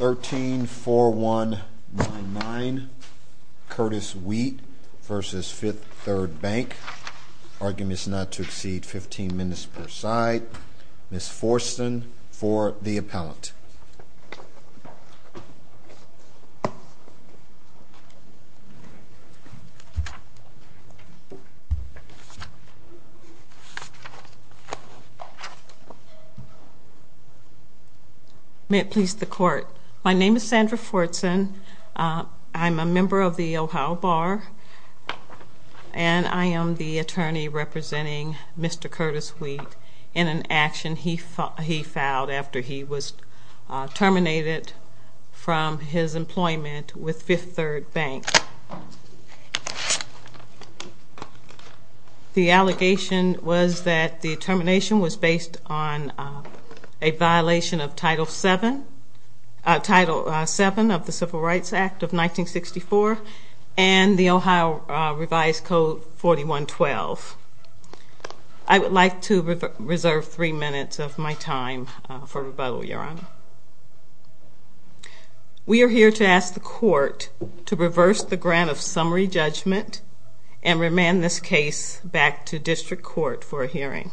13-4199 Curtis Wheat v. Fifth Third Bank Argument is not to exceed 15 minutes per side. Ms. Forston for the appellant. May it please the court. My name is Sandra Fortson. I'm a member of the Ohio Bar, and I am the attorney representing Mr. Curtis Wheat in an action he filed after he was terminated from his employment with Fifth Third Bank. The allegation was that the termination was based on a violation of Title VII of the Civil Rights Act of 1964 and the Ohio Revised Code 4112. I would like to reserve 3 minutes of my time for rebuttal, Your Honor. We are here to ask the court to reverse the grant of summary judgment and remand this case back to district court for a hearing.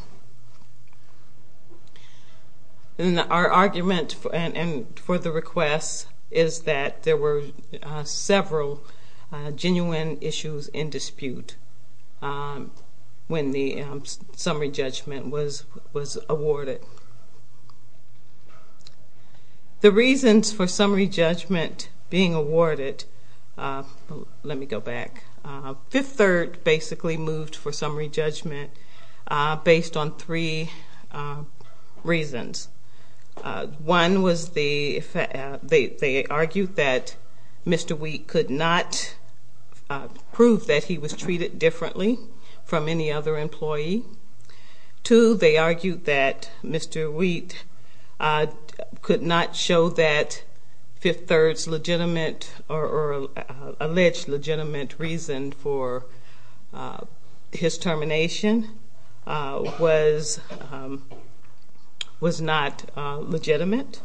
Our argument for the request is that there were several genuine issues in dispute when the summary judgment was awarded. The reasons for summary judgment being awarded, let me go back, Fifth Third basically moved for summary judgment based on three reasons. One was they argued that Mr. Wheat could not prove that he was treated differently from any other employee. Two, they argued that Mr. Wheat could not show that Fifth Third's legitimate or alleged legitimate reason for his termination was not legitimate.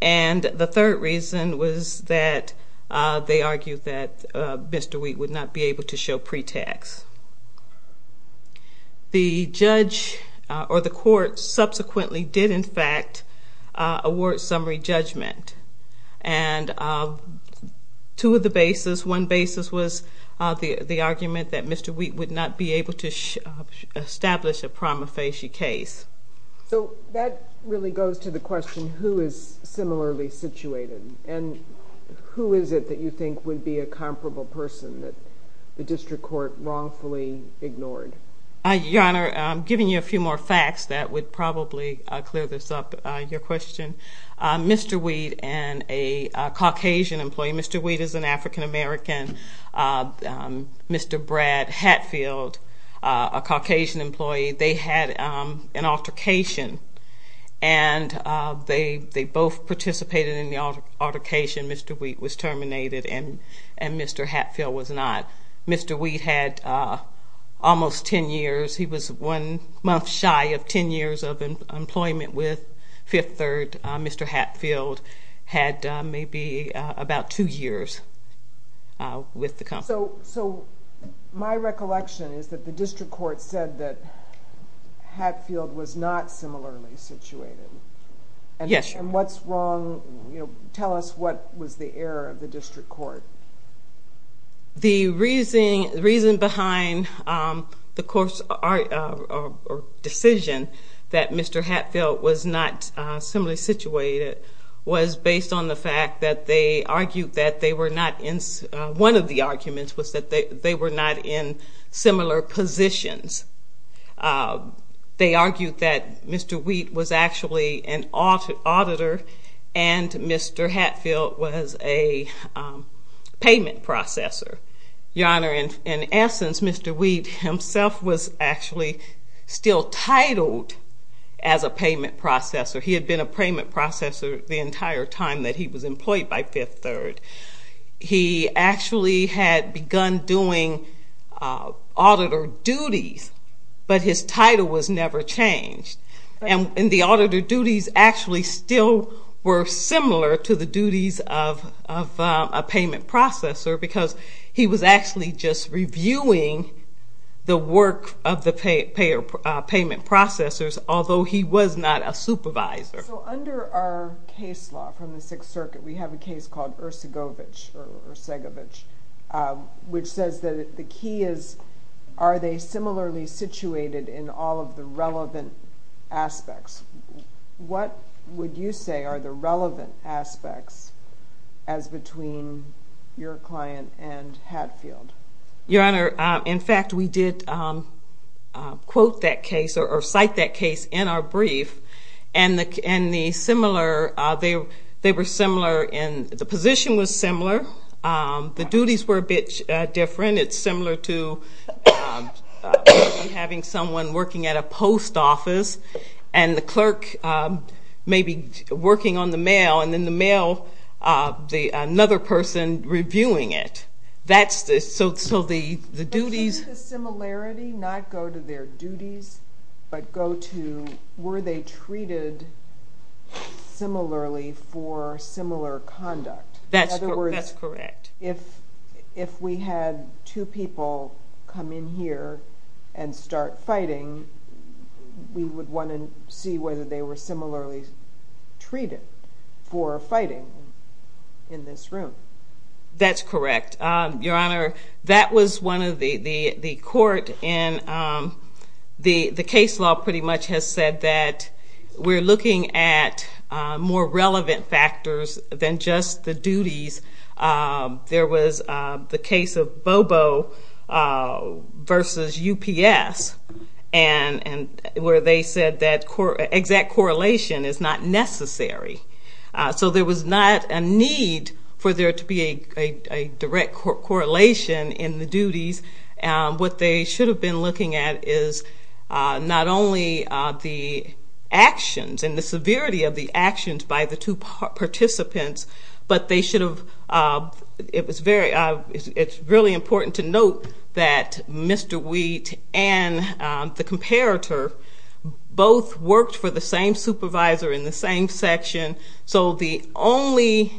And the third reason was that they argued that Mr. Wheat would not be able to show pretext. The judge or the court subsequently did in fact award summary judgment. And two of the bases, one basis was the argument that Mr. Wheat would not be able to establish a prima facie case. So that really goes to the question who is similarly situated and who is it that you think would be a comparable person that the district court wrongfully ignored? Your Honor, I'm giving you a few more facts that would probably clear this up, your question. Mr. Wheat and a Caucasian employee, Mr. Wheat is an African American, Mr. Brad Hatfield, a Caucasian employee, they had an altercation and they both participated in the altercation. Mr. Wheat was terminated and Mr. Hatfield was not. Mr. Wheat had almost ten years, he was one month shy of ten years of employment with Fifth Third. Mr. Hatfield had maybe about two years with the company. So my recollection is that the district court said that Hatfield was not similarly situated. Yes, Your Honor. And what's wrong, tell us what was the error of the district court? The reason behind the court's decision that Mr. Hatfield was not similarly situated was based on the fact that they argued that they were not in, one of them argued that Mr. Wheat was actually an auditor and Mr. Hatfield was a payment processor. Your Honor, in essence, Mr. Wheat himself was actually still titled as a payment processor. He had been a payment processor the entire time that he was employed by Fifth Third. He actually had begun doing auditor duties, but his title was never changed. And the auditor duties actually still were similar to the duties of a payment processor because he was actually just reviewing the work of the payment processors, although he was not a supervisor. So under our case law from the Sixth Circuit, we have a case called Ercegovich, which says that the key is, are they similarly situated in all of the relevant aspects? What would you say are the relevant aspects as between your client and Hatfield? Your Honor, in fact, we did quote that case or cite that case in our brief. And the similar, they were similar, and the position was similar. The duties were a bit different. It's similar to having someone working at a post office and the clerk maybe working on the mail, and then the mail, another person reviewing it. So the duties... But shouldn't the similarity not go to their duties, but go to, were they treated similarly for similar conduct? That's correct. In other words, if we had two people come in here and start fighting, we would want to see whether they were similarly treated for fighting in this room. That's correct. Your Honor, that was one of the court, and the case law pretty much has said that we're looking at more relevant factors than just the duties. There was the case of Bobo versus UPS, and where they said that exact correlation is not necessary. So there was not a need for there to be a direct correlation in the duties. What they should have been looking at is not only the actions and the severity of the actions by the two participants, but they should have... It's really important to note that Mr. Wheat and the comparator both worked for the same supervisor in the same section. So the only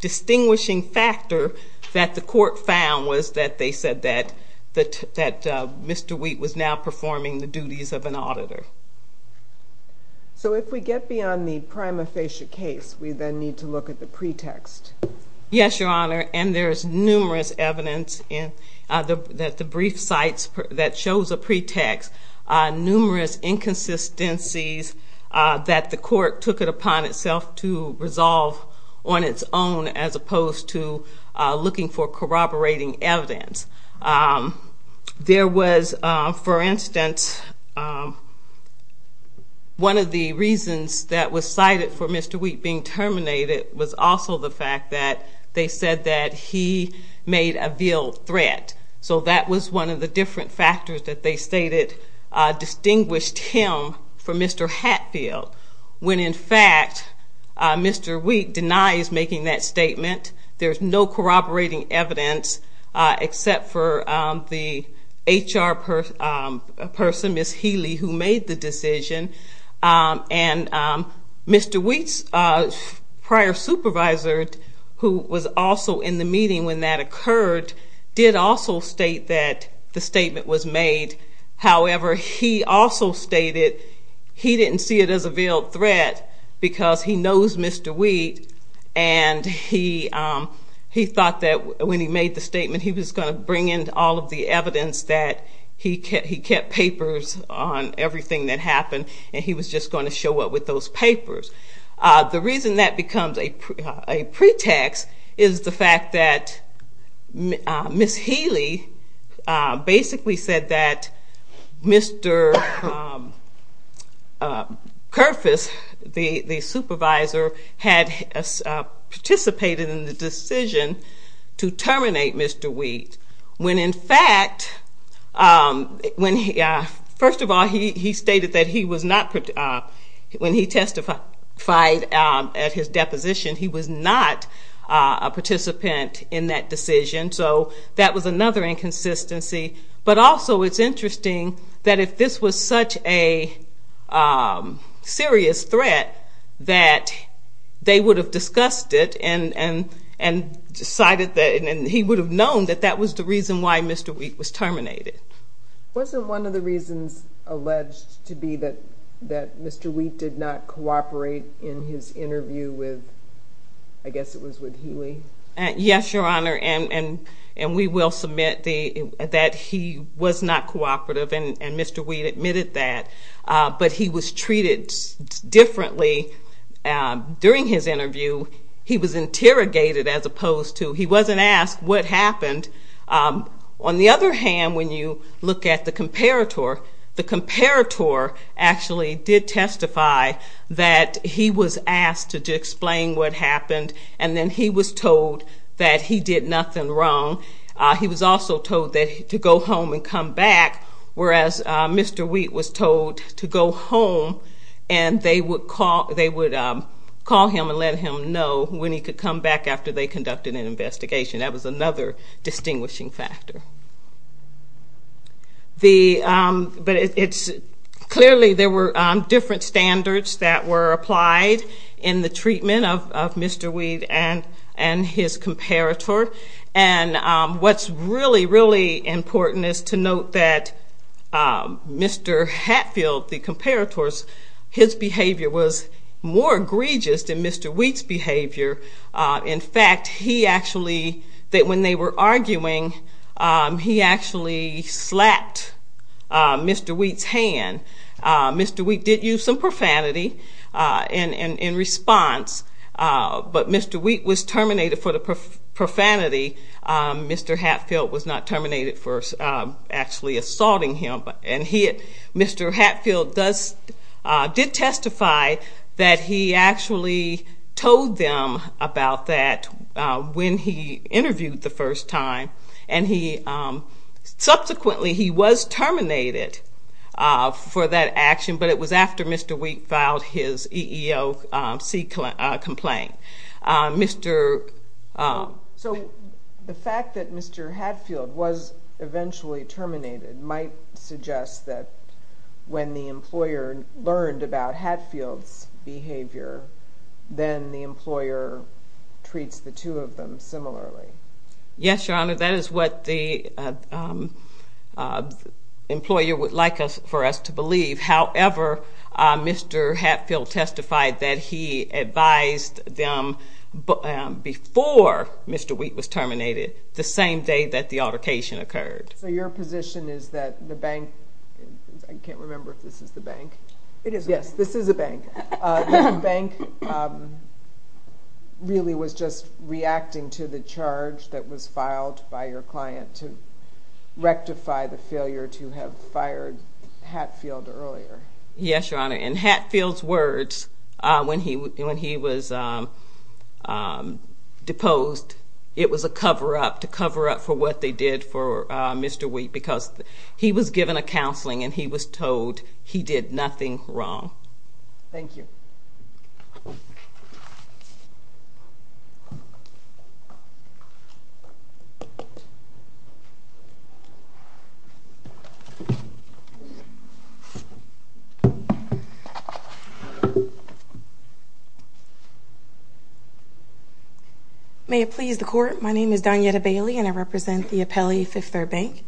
distinguishing factor that the court found was that they said that Mr. Wheat was now performing the duties of an auditor. So if we get beyond the prima facie case, we then need to look at the pretext. Yes, Your Honor, and there's numerous evidence that the brief cites that shows a pretext, numerous inconsistencies that the court took it upon itself to resolve on its own as opposed to looking for corroborating evidence. There was, for instance, one of the reasons that was cited for Mr. Wheat being terminated was also the fact that they said that he made a veiled threat. So that was one of the different factors that they stated distinguished him from Mr. Hatfield, when in fact, Mr. Wheat denies making that statement. There's no corroborating evidence except for the HR person, Ms. Healy, who made the decision. And Mr. Wheat's prior supervisor, who was also in the meeting when that occurred, did also state that the statement was made. However, he also stated he didn't see it as a veiled threat because he knows Mr. Wheat and he thought that when he made the statement, he was going to bring in all of the evidence that he kept papers on everything that happened and he was just going to show up with those papers. The reason that becomes a pretext is the fact that Ms. Healy basically said that Mr. Kerfess, the supervisor, had participated in the decision to terminate Mr. Wheat, when in fact, first of all, he stated that he was not, when he testified at his deposition, he was not a participant in that decision. So that was another inconsistency. But also, it's they would have discussed it and decided that, and he would have known that that was the reason why Mr. Wheat was terminated. Wasn't one of the reasons alleged to be that Mr. Wheat did not cooperate in his interview with, I guess it was with Healy? Yes, Your Honor. And we will submit that he was not cooperative and Mr. Wheat admitted that. But he was treated differently during his interview. He was interrogated as opposed to, he wasn't asked what happened. On the other hand, when you look at the comparator, the comparator actually did testify that he was asked to explain what happened and then he was told that he did nothing wrong. He was also told to go home and come back, whereas Mr. Wheat was told to go home and they would call him and let him know when he could come back after they conducted an investigation. That was another distinguishing factor. The, but it's, clearly there were different standards that were applied in the treatment of Mr. Wheat and his comparator. And what's really, really important is to note that Mr. Hatfield, the comparator's, his behavior was more egregious than Mr. Wheat's behavior. In fact, he actually, that when they were arguing, he actually slapped Mr. Wheat's hand. Mr. Wheat did use some profanity in response, but Mr. Wheat was terminated for the profanity. Mr. Hatfield was not terminated for actually assaulting him. And he, Mr. Hatfield does, did testify that he actually told them about that when he interviewed the first time. And he, subsequently he was terminated for that action, but it was after Mr. Wheat filed his EEOC complaint. Mr. So the fact that Mr. Hatfield was eventually terminated might suggest that when the employer learned about Hatfield's behavior, then the employer treats the two of them similarly. Yes, Your Honor, that is what the employer would like us, for us to believe. However, Mr. Hatfield testified that he advised them before Mr. Wheat was terminated, the same day that the altercation occurred. So your position is that the bank, I can't remember if this is the bank. It is. Yes, this is a bank. The bank really was just reacting to the charge that was Mr. Hatfield's words when he was deposed. It was a cover up, to cover up for what they did for Mr. Wheat, because he was given a counseling and he was told he did nothing wrong. Thank you. May it please the court, my name is Donyetta Bailey and I represent the Apelli Fifth Third Bank.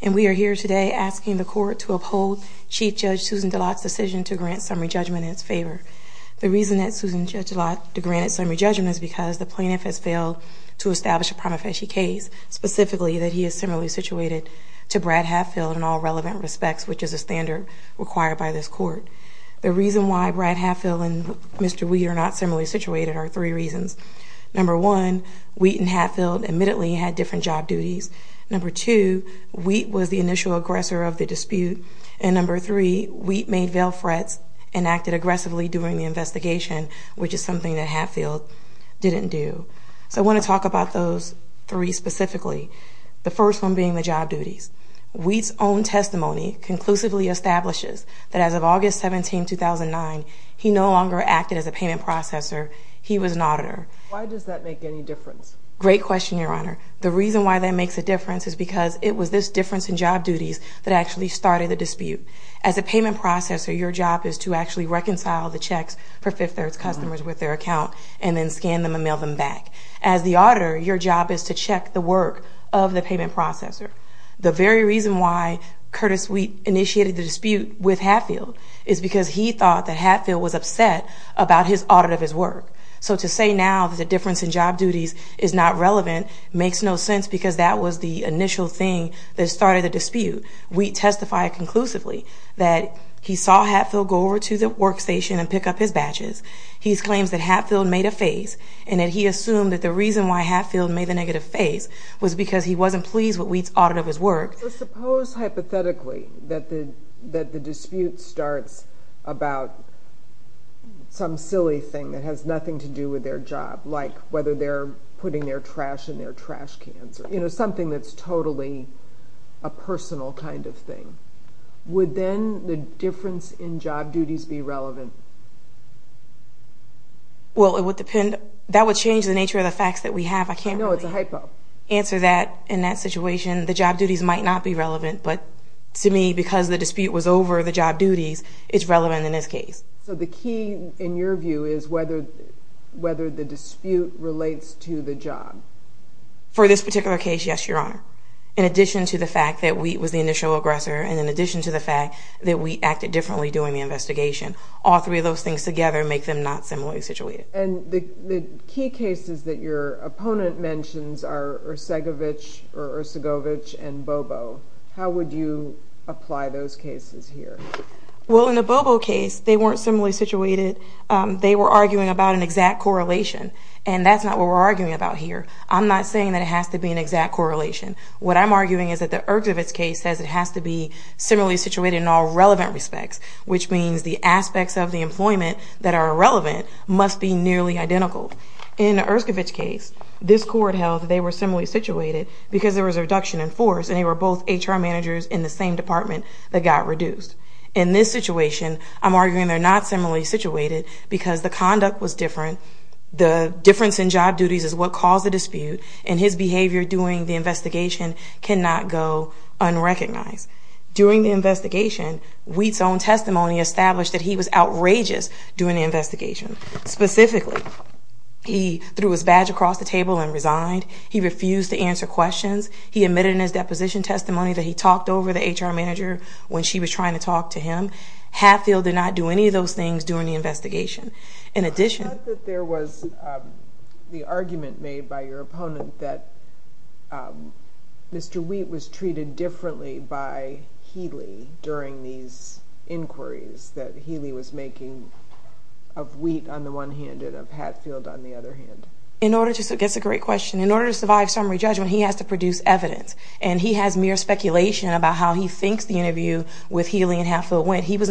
And we are here today asking the court to uphold Chief Judge Susan DeLotte's decision to grant summary judgment in its favor. The reason that Susan Judge DeLotte granted summary judgment is because the plaintiff has failed to establish a prima facie case, specifically that he is similarly situated to Brad Hatfield in all relevant respects, which is a standard required by this case. The reasons why Brad Hatfield and Mr. Wheat are not similarly situated are three reasons. Number one, Wheat and Hatfield admittedly had different job duties. Number two, Wheat was the initial aggressor of the dispute. And number three, Wheat made veiled threats and acted aggressively during the investigation, which is something that Hatfield didn't do. So I want to talk about those three specifically. The first one being the job duties. Wheat's own acted as a payment processor. He was an auditor. Why does that make any difference? Great question, Your Honor. The reason why that makes a difference is because it was this difference in job duties that actually started the dispute. As a payment processor, your job is to actually reconcile the checks for Fifth Third's customers with their account and then scan them and mail them back. As the auditor, your job is to check the work of the payment processor. The very reason why Curtis Wheat initiated the dispute is because Hatfield was upset about his audit of his work. So to say now that the difference in job duties is not relevant makes no sense because that was the initial thing that started the dispute. Wheat testified conclusively that he saw Hatfield go over to the workstation and pick up his badges. He claims that Hatfield made a phase and that he assumed that the reason why Hatfield made the negative phase was because he wasn't pleased with Wheat's audit of his work. So suppose hypothetically that the dispute starts about some silly thing that has nothing to do with their job, like whether they're putting their trash in their trash cans. You know, something that's totally a personal kind of thing. Would then the difference in job duties be relevant? Well, that would change the nature of the facts that we have. I can't really answer that in that situation. The job duties might not be relevant, but to me, because the dispute was over, the job duties is relevant in this case. So the key, in your view, is whether the dispute relates to the job. For this particular case, yes, Your Honor. In addition to the fact that Wheat was the initial aggressor, and in addition to the fact that Wheat acted differently during the investigation, all three of those things together make them not similarly situated. And the key cases that your opponent mentions are Ercegovich and Bobo. How would you apply those cases here? Well, in the Bobo case, they weren't similarly situated. They were arguing about an exact correlation, and that's not what we're arguing about here. I'm not saying that it has to be an exact correlation. What I'm arguing is that the Ercegovich case says it has to be similarly situated in all relevant respects, which means the aspects of the employment that are relevant must be nearly identical. In the Ercegovich case, this court held that they were similarly situated because there was a reduction in force, and they were both HR managers in the same department that got reduced. In this situation, I'm arguing they're not similarly situated because the conduct was different, the difference in job duties is what caused the dispute, and his behavior during the investigation cannot go unrecognized. During the investigation, Wheat's own testimony established that he was outrageous during the investigation. Specifically, he threw his badge across the table and resigned. He refused to answer questions. He admitted in his deposition testimony that he talked over the HR manager when she was trying to talk to him. Hatfield did not do any of those things during the investigation. I thought that there was the argument made by your opponent that Mr. Wheat was treated differently by Healy during these inquiries that Healy was making of Wheat on the one hand and of Hatfield on the other hand. That's a great question. In order to survive summary judgment, he has to produce evidence, and he has mere speculation about how he thinks the interview with Healy and Hatfield went. He has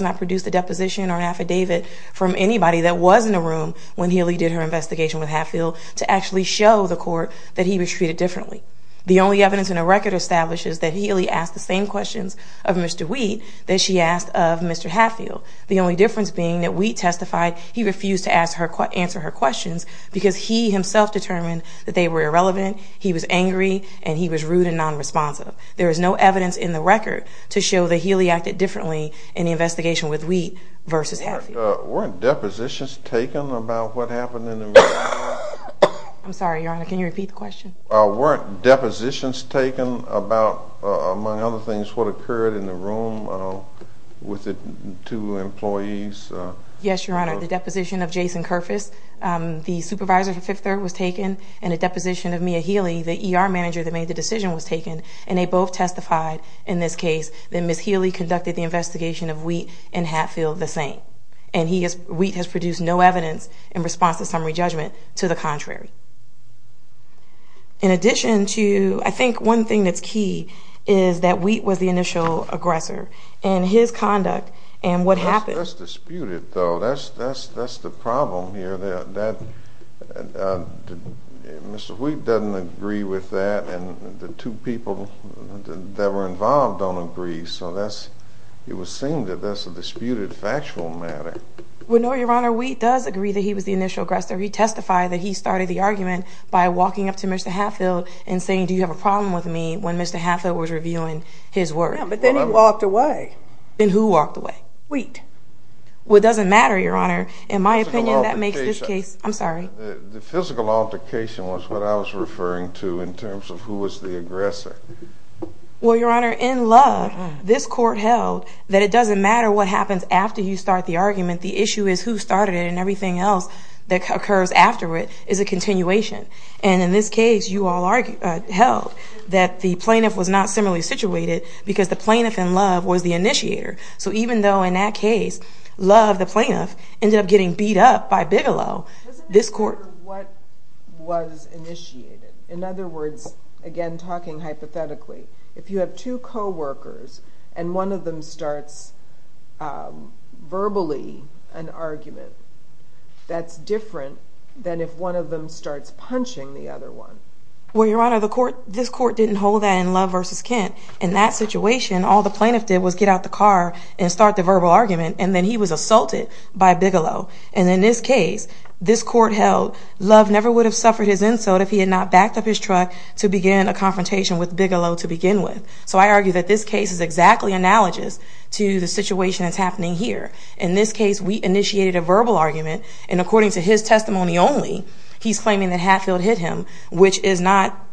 not produced a deposition or an affidavit from anybody that was in the room when Healy did her investigation with Hatfield to actually show the court that he was treated differently. The only evidence in the record establishes that Healy asked the same questions of Mr. Wheat that she asked of Mr. Hatfield. The only difference being that Wheat testified he refused to answer her questions because he himself determined that they were irrelevant, he was angry, and he was rude and nonresponsive. There is no evidence in the record to show that Healy acted differently in the investigation with Wheat versus Hatfield. Weren't depositions taken about what happened in the room? I'm sorry, Your Honor. Can you repeat the question? Weren't depositions taken about, among other things, what occurred in the room with the two employees? Yes, Your Honor. The deposition of Jason Kerfess, the supervisor for Fifth Third, was taken, and the deposition of Mia Healy, the ER manager that made the decision, was taken. And they both testified in this case that Ms. Healy conducted the investigation of Wheat and Hatfield the same. And Wheat has produced no evidence in response to summary judgment to the contrary. In addition to, I think one thing that's key is that Wheat was the initial aggressor. And his conduct and what happened. That's disputed, though. That's the problem here. Mr. Wheat doesn't agree with that, and the two people that were involved don't agree. So it would seem that that's a disputed factual matter. Well, no, Your Honor. Wheat does agree that he was the initial aggressor. He testified that he started the argument by walking up to Mr. Hatfield and saying, do you have a problem with me, when Mr. Hatfield was revealing his words. Yeah, but then he walked away. Then who walked away? Wheat. Well, it doesn't matter, Your Honor. In my opinion, that makes this case... Physical altercation. I'm sorry. The physical altercation was what I was referring to in terms of who was the aggressor. Well, Your Honor, in Love, this court held that it doesn't matter what happens after you start the argument. The issue is who started it, and everything else that occurs after it is a continuation. And in this case, you all held that the plaintiff was not similarly situated because the plaintiff in Love was the initiator. So even though in that case, Love, the plaintiff, ended up getting beat up by Bigelow, this court... It doesn't matter what was initiated. In other words, again, talking hypothetically, if you have two coworkers and one of them starts verbally an argument, that's different than if one of them starts punching the other one. Well, Your Honor, this court didn't hold that in Love v. Kent. In that situation, all the plaintiff did was get out the car and start the verbal argument, and then he was assaulted by Bigelow. And in this case, this court held Love never would have suffered his insult if he had not backed up his truck to begin a confrontation with Bigelow to begin with. So I argue that this case is exactly analogous to the situation that's happening here. In this case, we initiated a verbal argument, and according to his testimony only, he's claiming that Hatfield hit him, which is not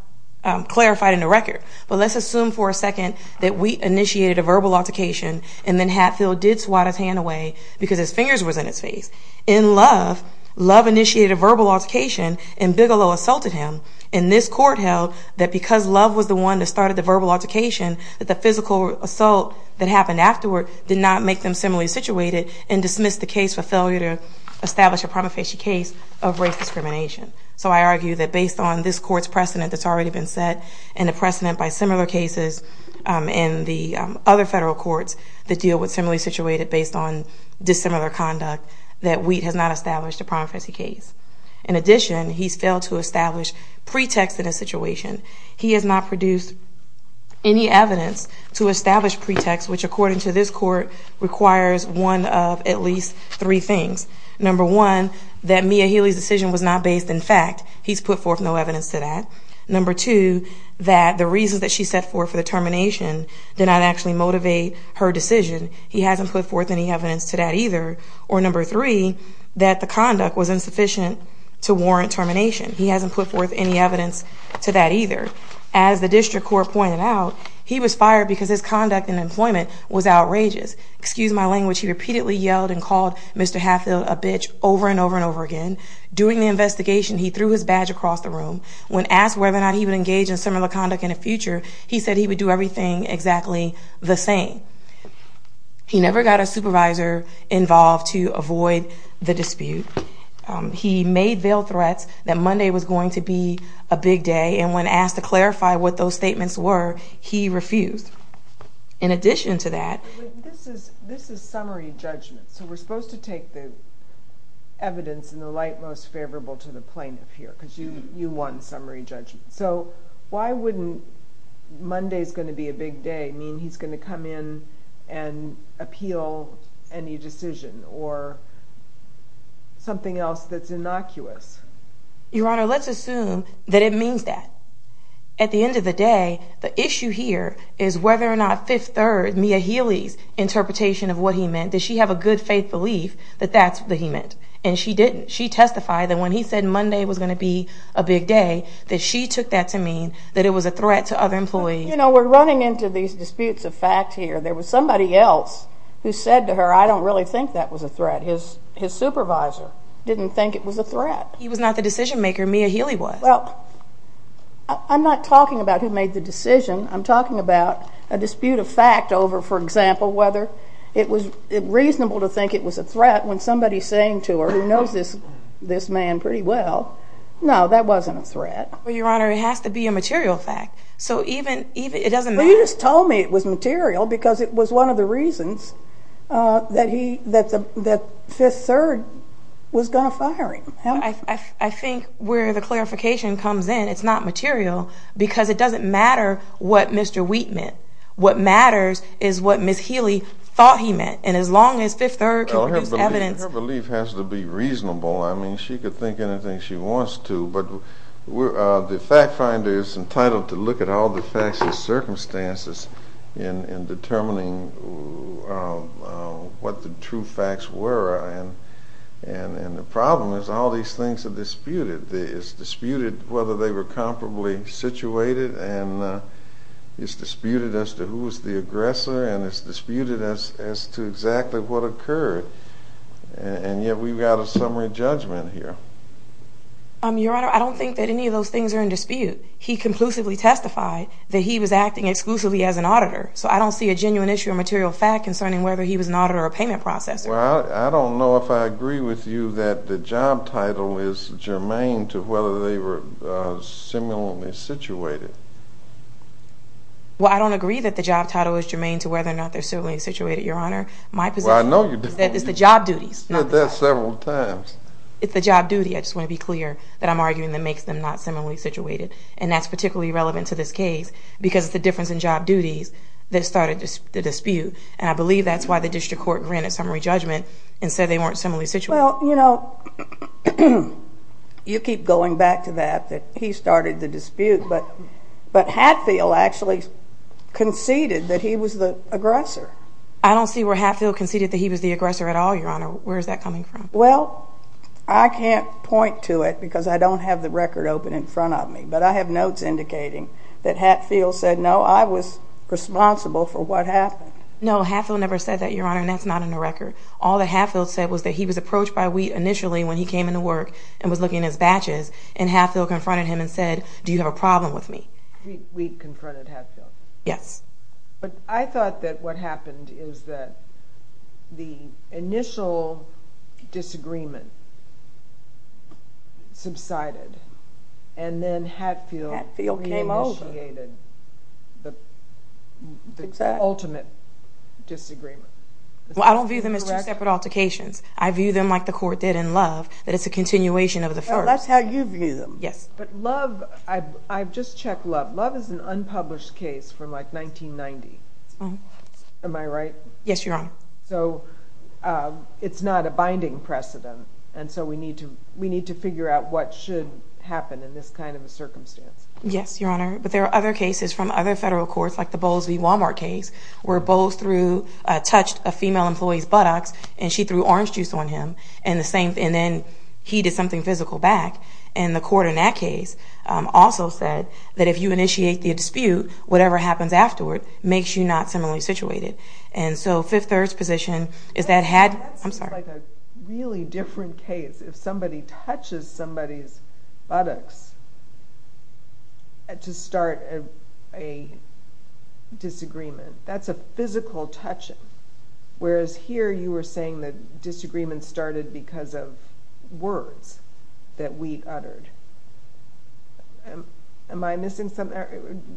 clarified in the record. But let's assume for a second that we initiated a verbal altercation, and then Hatfield did swat his hand away because his fingers were in his face. In Love, Love initiated a verbal altercation, and Bigelow assaulted him. And this court held that because Love was the one that started the verbal altercation, that the physical assault that happened afterward did not make them similarly situated and dismissed the case for failure to establish a prima facie case of race discrimination. So I argue that based on this court's precedent that's already been set and the precedent by similar cases in the other federal courts that deal with similarly situated based on dissimilar conduct, that Wheat has not established a prima facie case. In addition, he's failed to establish pretext in a situation. He has not produced any evidence to establish pretext, which according to this court requires one of at least three things. Number one, that Mia Healy's decision was not based in fact. He's put forth no evidence to that. Number two, that the reasons that she set forth for the termination did not actually motivate her decision. He hasn't put forth any evidence to that either. Or number three, that the conduct was insufficient to warrant termination. He hasn't put forth any evidence to that either. As the district court pointed out, he was fired because his conduct in employment was outrageous. Excuse my language. He repeatedly yelled and called Mr. Hatfield a bitch over and over and over again. During the investigation, he threw his badge across the room. When asked whether or not he would engage in similar conduct in the future, he said he would do everything exactly the same. He never got a supervisor involved to avoid the dispute. He made veiled threats that Monday was going to be a big day, and when asked to clarify what those statements were, he refused. In addition to that, this is summary judgment, so we're supposed to take the evidence in the light most favorable to the plaintiff here because you want summary judgment. So why wouldn't Monday's going to be a big day mean he's going to come in and appeal any decision or something else that's innocuous? Your Honor, let's assume that it means that. At the end of the day, the issue here is whether or not Fifth Third, Mia Healy's interpretation of what he meant, does she have a good faith belief that that's what he meant, and she didn't. She testified that when he said Monday was going to be a big day, that she took that to mean that it was a threat to other employees. You know, we're running into these disputes of fact here. There was somebody else who said to her, I don't really think that was a threat. His supervisor didn't think it was a threat. He was not the decision maker. Mia Healy was. Well, I'm not talking about who made the decision. I'm talking about a dispute of fact over, for example, whether it was reasonable to think it was a threat when somebody is saying to her, who knows this man pretty well, no, that wasn't a threat. Well, Your Honor, it has to be a material fact. So even, it doesn't matter. Well, you just told me it was material, because it was one of the reasons that Fifth Third was going to fire him. I think where the clarification comes in, it's not material, because it doesn't matter what Mr. Wheat meant. What matters is what Ms. Healy thought he meant, and as long as Fifth Third can produce evidence. Her belief has to be reasonable. I mean, she could think anything she wants to, but the fact finder is entitled to look at all the facts and circumstances in determining what the true facts were. And the problem is all these things are disputed. It's disputed whether they were comparably situated, and it's disputed as to who was the aggressor, and it's disputed as to exactly what occurred, and yet we've got a summary judgment here. Your Honor, I don't think that any of those things are in dispute. He conclusively testified that he was acting exclusively as an auditor, so I don't see a genuine issue of material fact concerning whether he was an auditor or a payment processor. Well, I don't know if I agree with you that the job title is germane to whether they were similarly situated. Well, I don't agree that the job title is germane to whether or not they're similarly situated, Your Honor. My position is that it's the job duties. You've said that several times. It's the job duty. I just want to be clear that I'm arguing that makes them not similarly situated, and that's particularly relevant to this case because it's the difference in job duties that started the dispute, and I believe that's why the district court granted summary judgment and said they weren't similarly situated. Well, you know, you keep going back to that, that he started the dispute, but Hatfield actually conceded that he was the aggressor. I don't see where Hatfield conceded that he was the aggressor at all, Your Honor. Where is that coming from? Well, I can't point to it because I don't have the record open in front of me, but I have notes indicating that Hatfield said, no, I was responsible for what happened. No, Hatfield never said that, Your Honor, and that's not in the record. All that Hatfield said was that he was approached by Wheat initially when he came into work and was looking at his batches, and Hatfield confronted him and said, do you have a problem with me? Wheat confronted Hatfield? Yes. But I thought that what happened is that the initial disagreement subsided and then Hatfield re-initiated the ultimate disagreement. Well, I don't view them as two separate altercations. I view them like the court did in Love, that it's a continuation of the first. That's how you view them. Yes. But Love, I've just checked Love. Love is an unpublished case from, like, 1990. That's right. Am I right? Yes, Your Honor. So it's not a binding precedent, and so we need to figure out what should happen in this kind of a circumstance. Yes, Your Honor. But there are other cases from other federal courts, like the Bowles v. Walmart case, where Bowles touched a female employee's buttocks and she threw orange juice on him, and then he did something physical back. And the court in that case also said that if you initiate the dispute, whatever happens afterward makes you not similarly situated. And so Fifth Third's position is that had— That seems like a really different case. If somebody touches somebody's buttocks to start a disagreement, that's a physical touching, whereas here you were saying the disagreement started because of words that Wheat uttered. Am I missing something?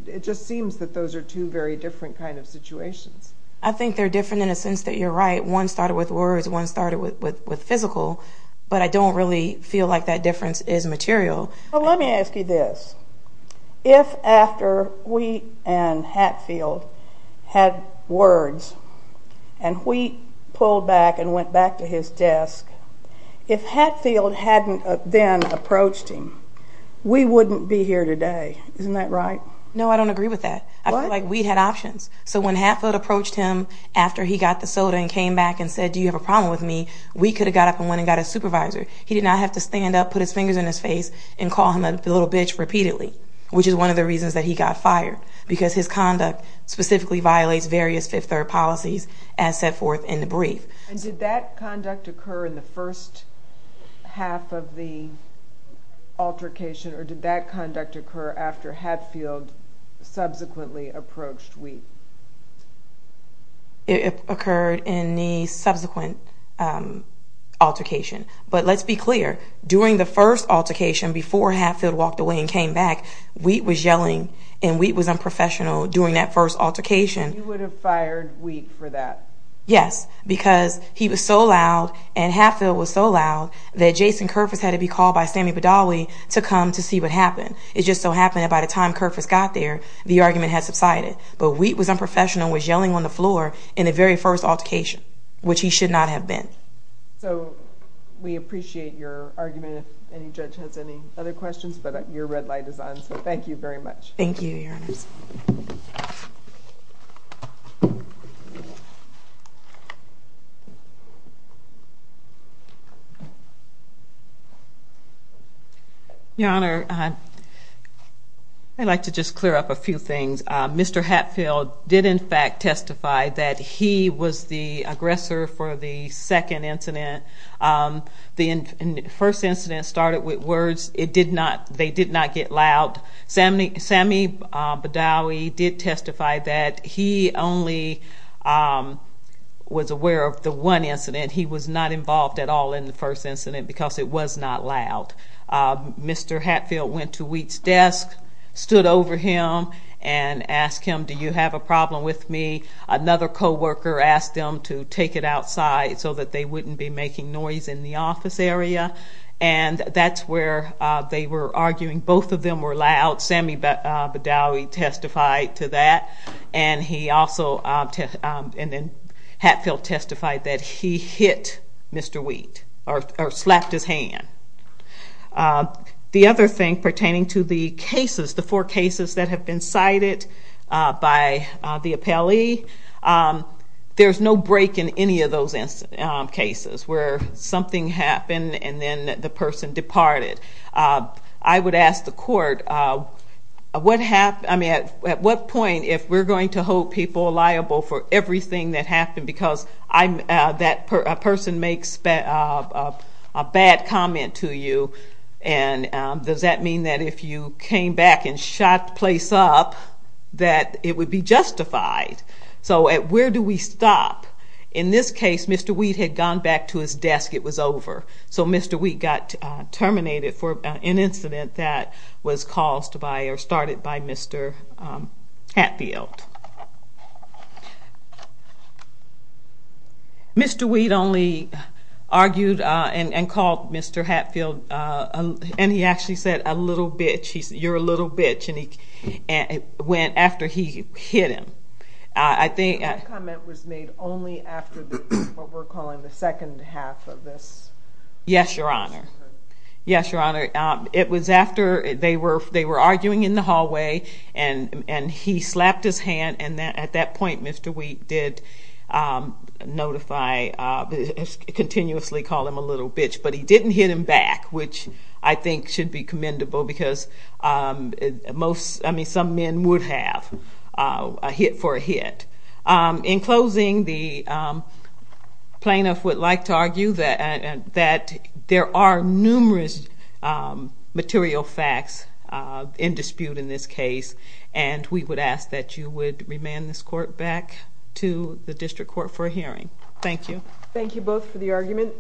It just seems that those are two very different kind of situations. I think they're different in a sense that you're right. One started with words, one started with physical, but I don't really feel like that difference is material. Well, let me ask you this. If after Wheat and Hatfield had words, and Wheat pulled back and went back to his desk, if Hatfield hadn't then approached him, we wouldn't be here today. Isn't that right? No, I don't agree with that. What? I feel like Wheat had options. So when Hatfield approached him after he got the soda and came back and said, do you have a problem with me, Wheat could have got up and went and got his supervisor. He did not have to stand up, put his fingers in his face, and call him a little bitch repeatedly, which is one of the reasons that he got fired, because his conduct specifically violates various Fifth Third policies, as set forth in the brief. And did that conduct occur in the first half of the altercation, or did that conduct occur after Hatfield subsequently approached Wheat? It occurred in the subsequent altercation. But let's be clear, during the first altercation, before Hatfield walked away and came back, Wheat was yelling and Wheat was unprofessional during that first altercation. You would have fired Wheat for that? Yes, because he was so loud and Hatfield was so loud that Jason Kerfess had to be called by Sammy Badawi to come to see what happened. It just so happened that by the time Kerfess got there, the argument had subsided. But Wheat was unprofessional and was yelling on the floor in the very first altercation, which he should not have been. Okay. So we appreciate your argument, if any judge has any other questions. But your red light is on, so thank you very much. Thank you, Your Honor. Your Honor, I'd like to just clear up a few things. Mr. Hatfield did, in fact, testify that he was the aggressor for the second incident. The first incident started with words. They did not get loud. Sammy Badawi did testify that he only was aware of the one incident. He was not involved at all in the first incident because it was not loud. Mr. Hatfield went to Wheat's desk, stood over him, and asked him, do you have a problem with me? Another co-worker asked them to take it outside so that they wouldn't be making noise in the office area. And that's where they were arguing. Both of them were loud. Sammy Badawi testified to that. And then Hatfield testified that he hit Mr. Wheat or slapped his hand. The other thing pertaining to the cases, the four cases that have been cited by the appellee, there's no break in any of those cases where something happened and then the person departed. I would ask the court, at what point if we're going to hold people liable for everything that happened because that person makes a bad comment to you, and does that mean that if you came back and shot the place up that it would be justified? So where do we stop? In this case, Mr. Wheat had gone back to his desk. It was over. So Mr. Wheat got terminated for an incident that was caused by or started by Mr. Hatfield. Mr. Wheat only argued and called Mr. Hatfield, and he actually said, a little bitch, you're a little bitch, and it went after he hit him. That comment was made only after what we're calling the second half of this? Yes, Your Honor. Yes, Your Honor. It was after they were arguing in the hallway, and he slapped his hand, and at that point Mr. Wheat did notify, continuously called him a little bitch, but he didn't hit him back, which I think should be commendable because some men would have a hit for a hit. In closing, the plaintiff would like to argue that there are numerous material facts in dispute in this case, and we would ask that you would remand this court back to the district court for a hearing. Thank you. Thank you both for the argument.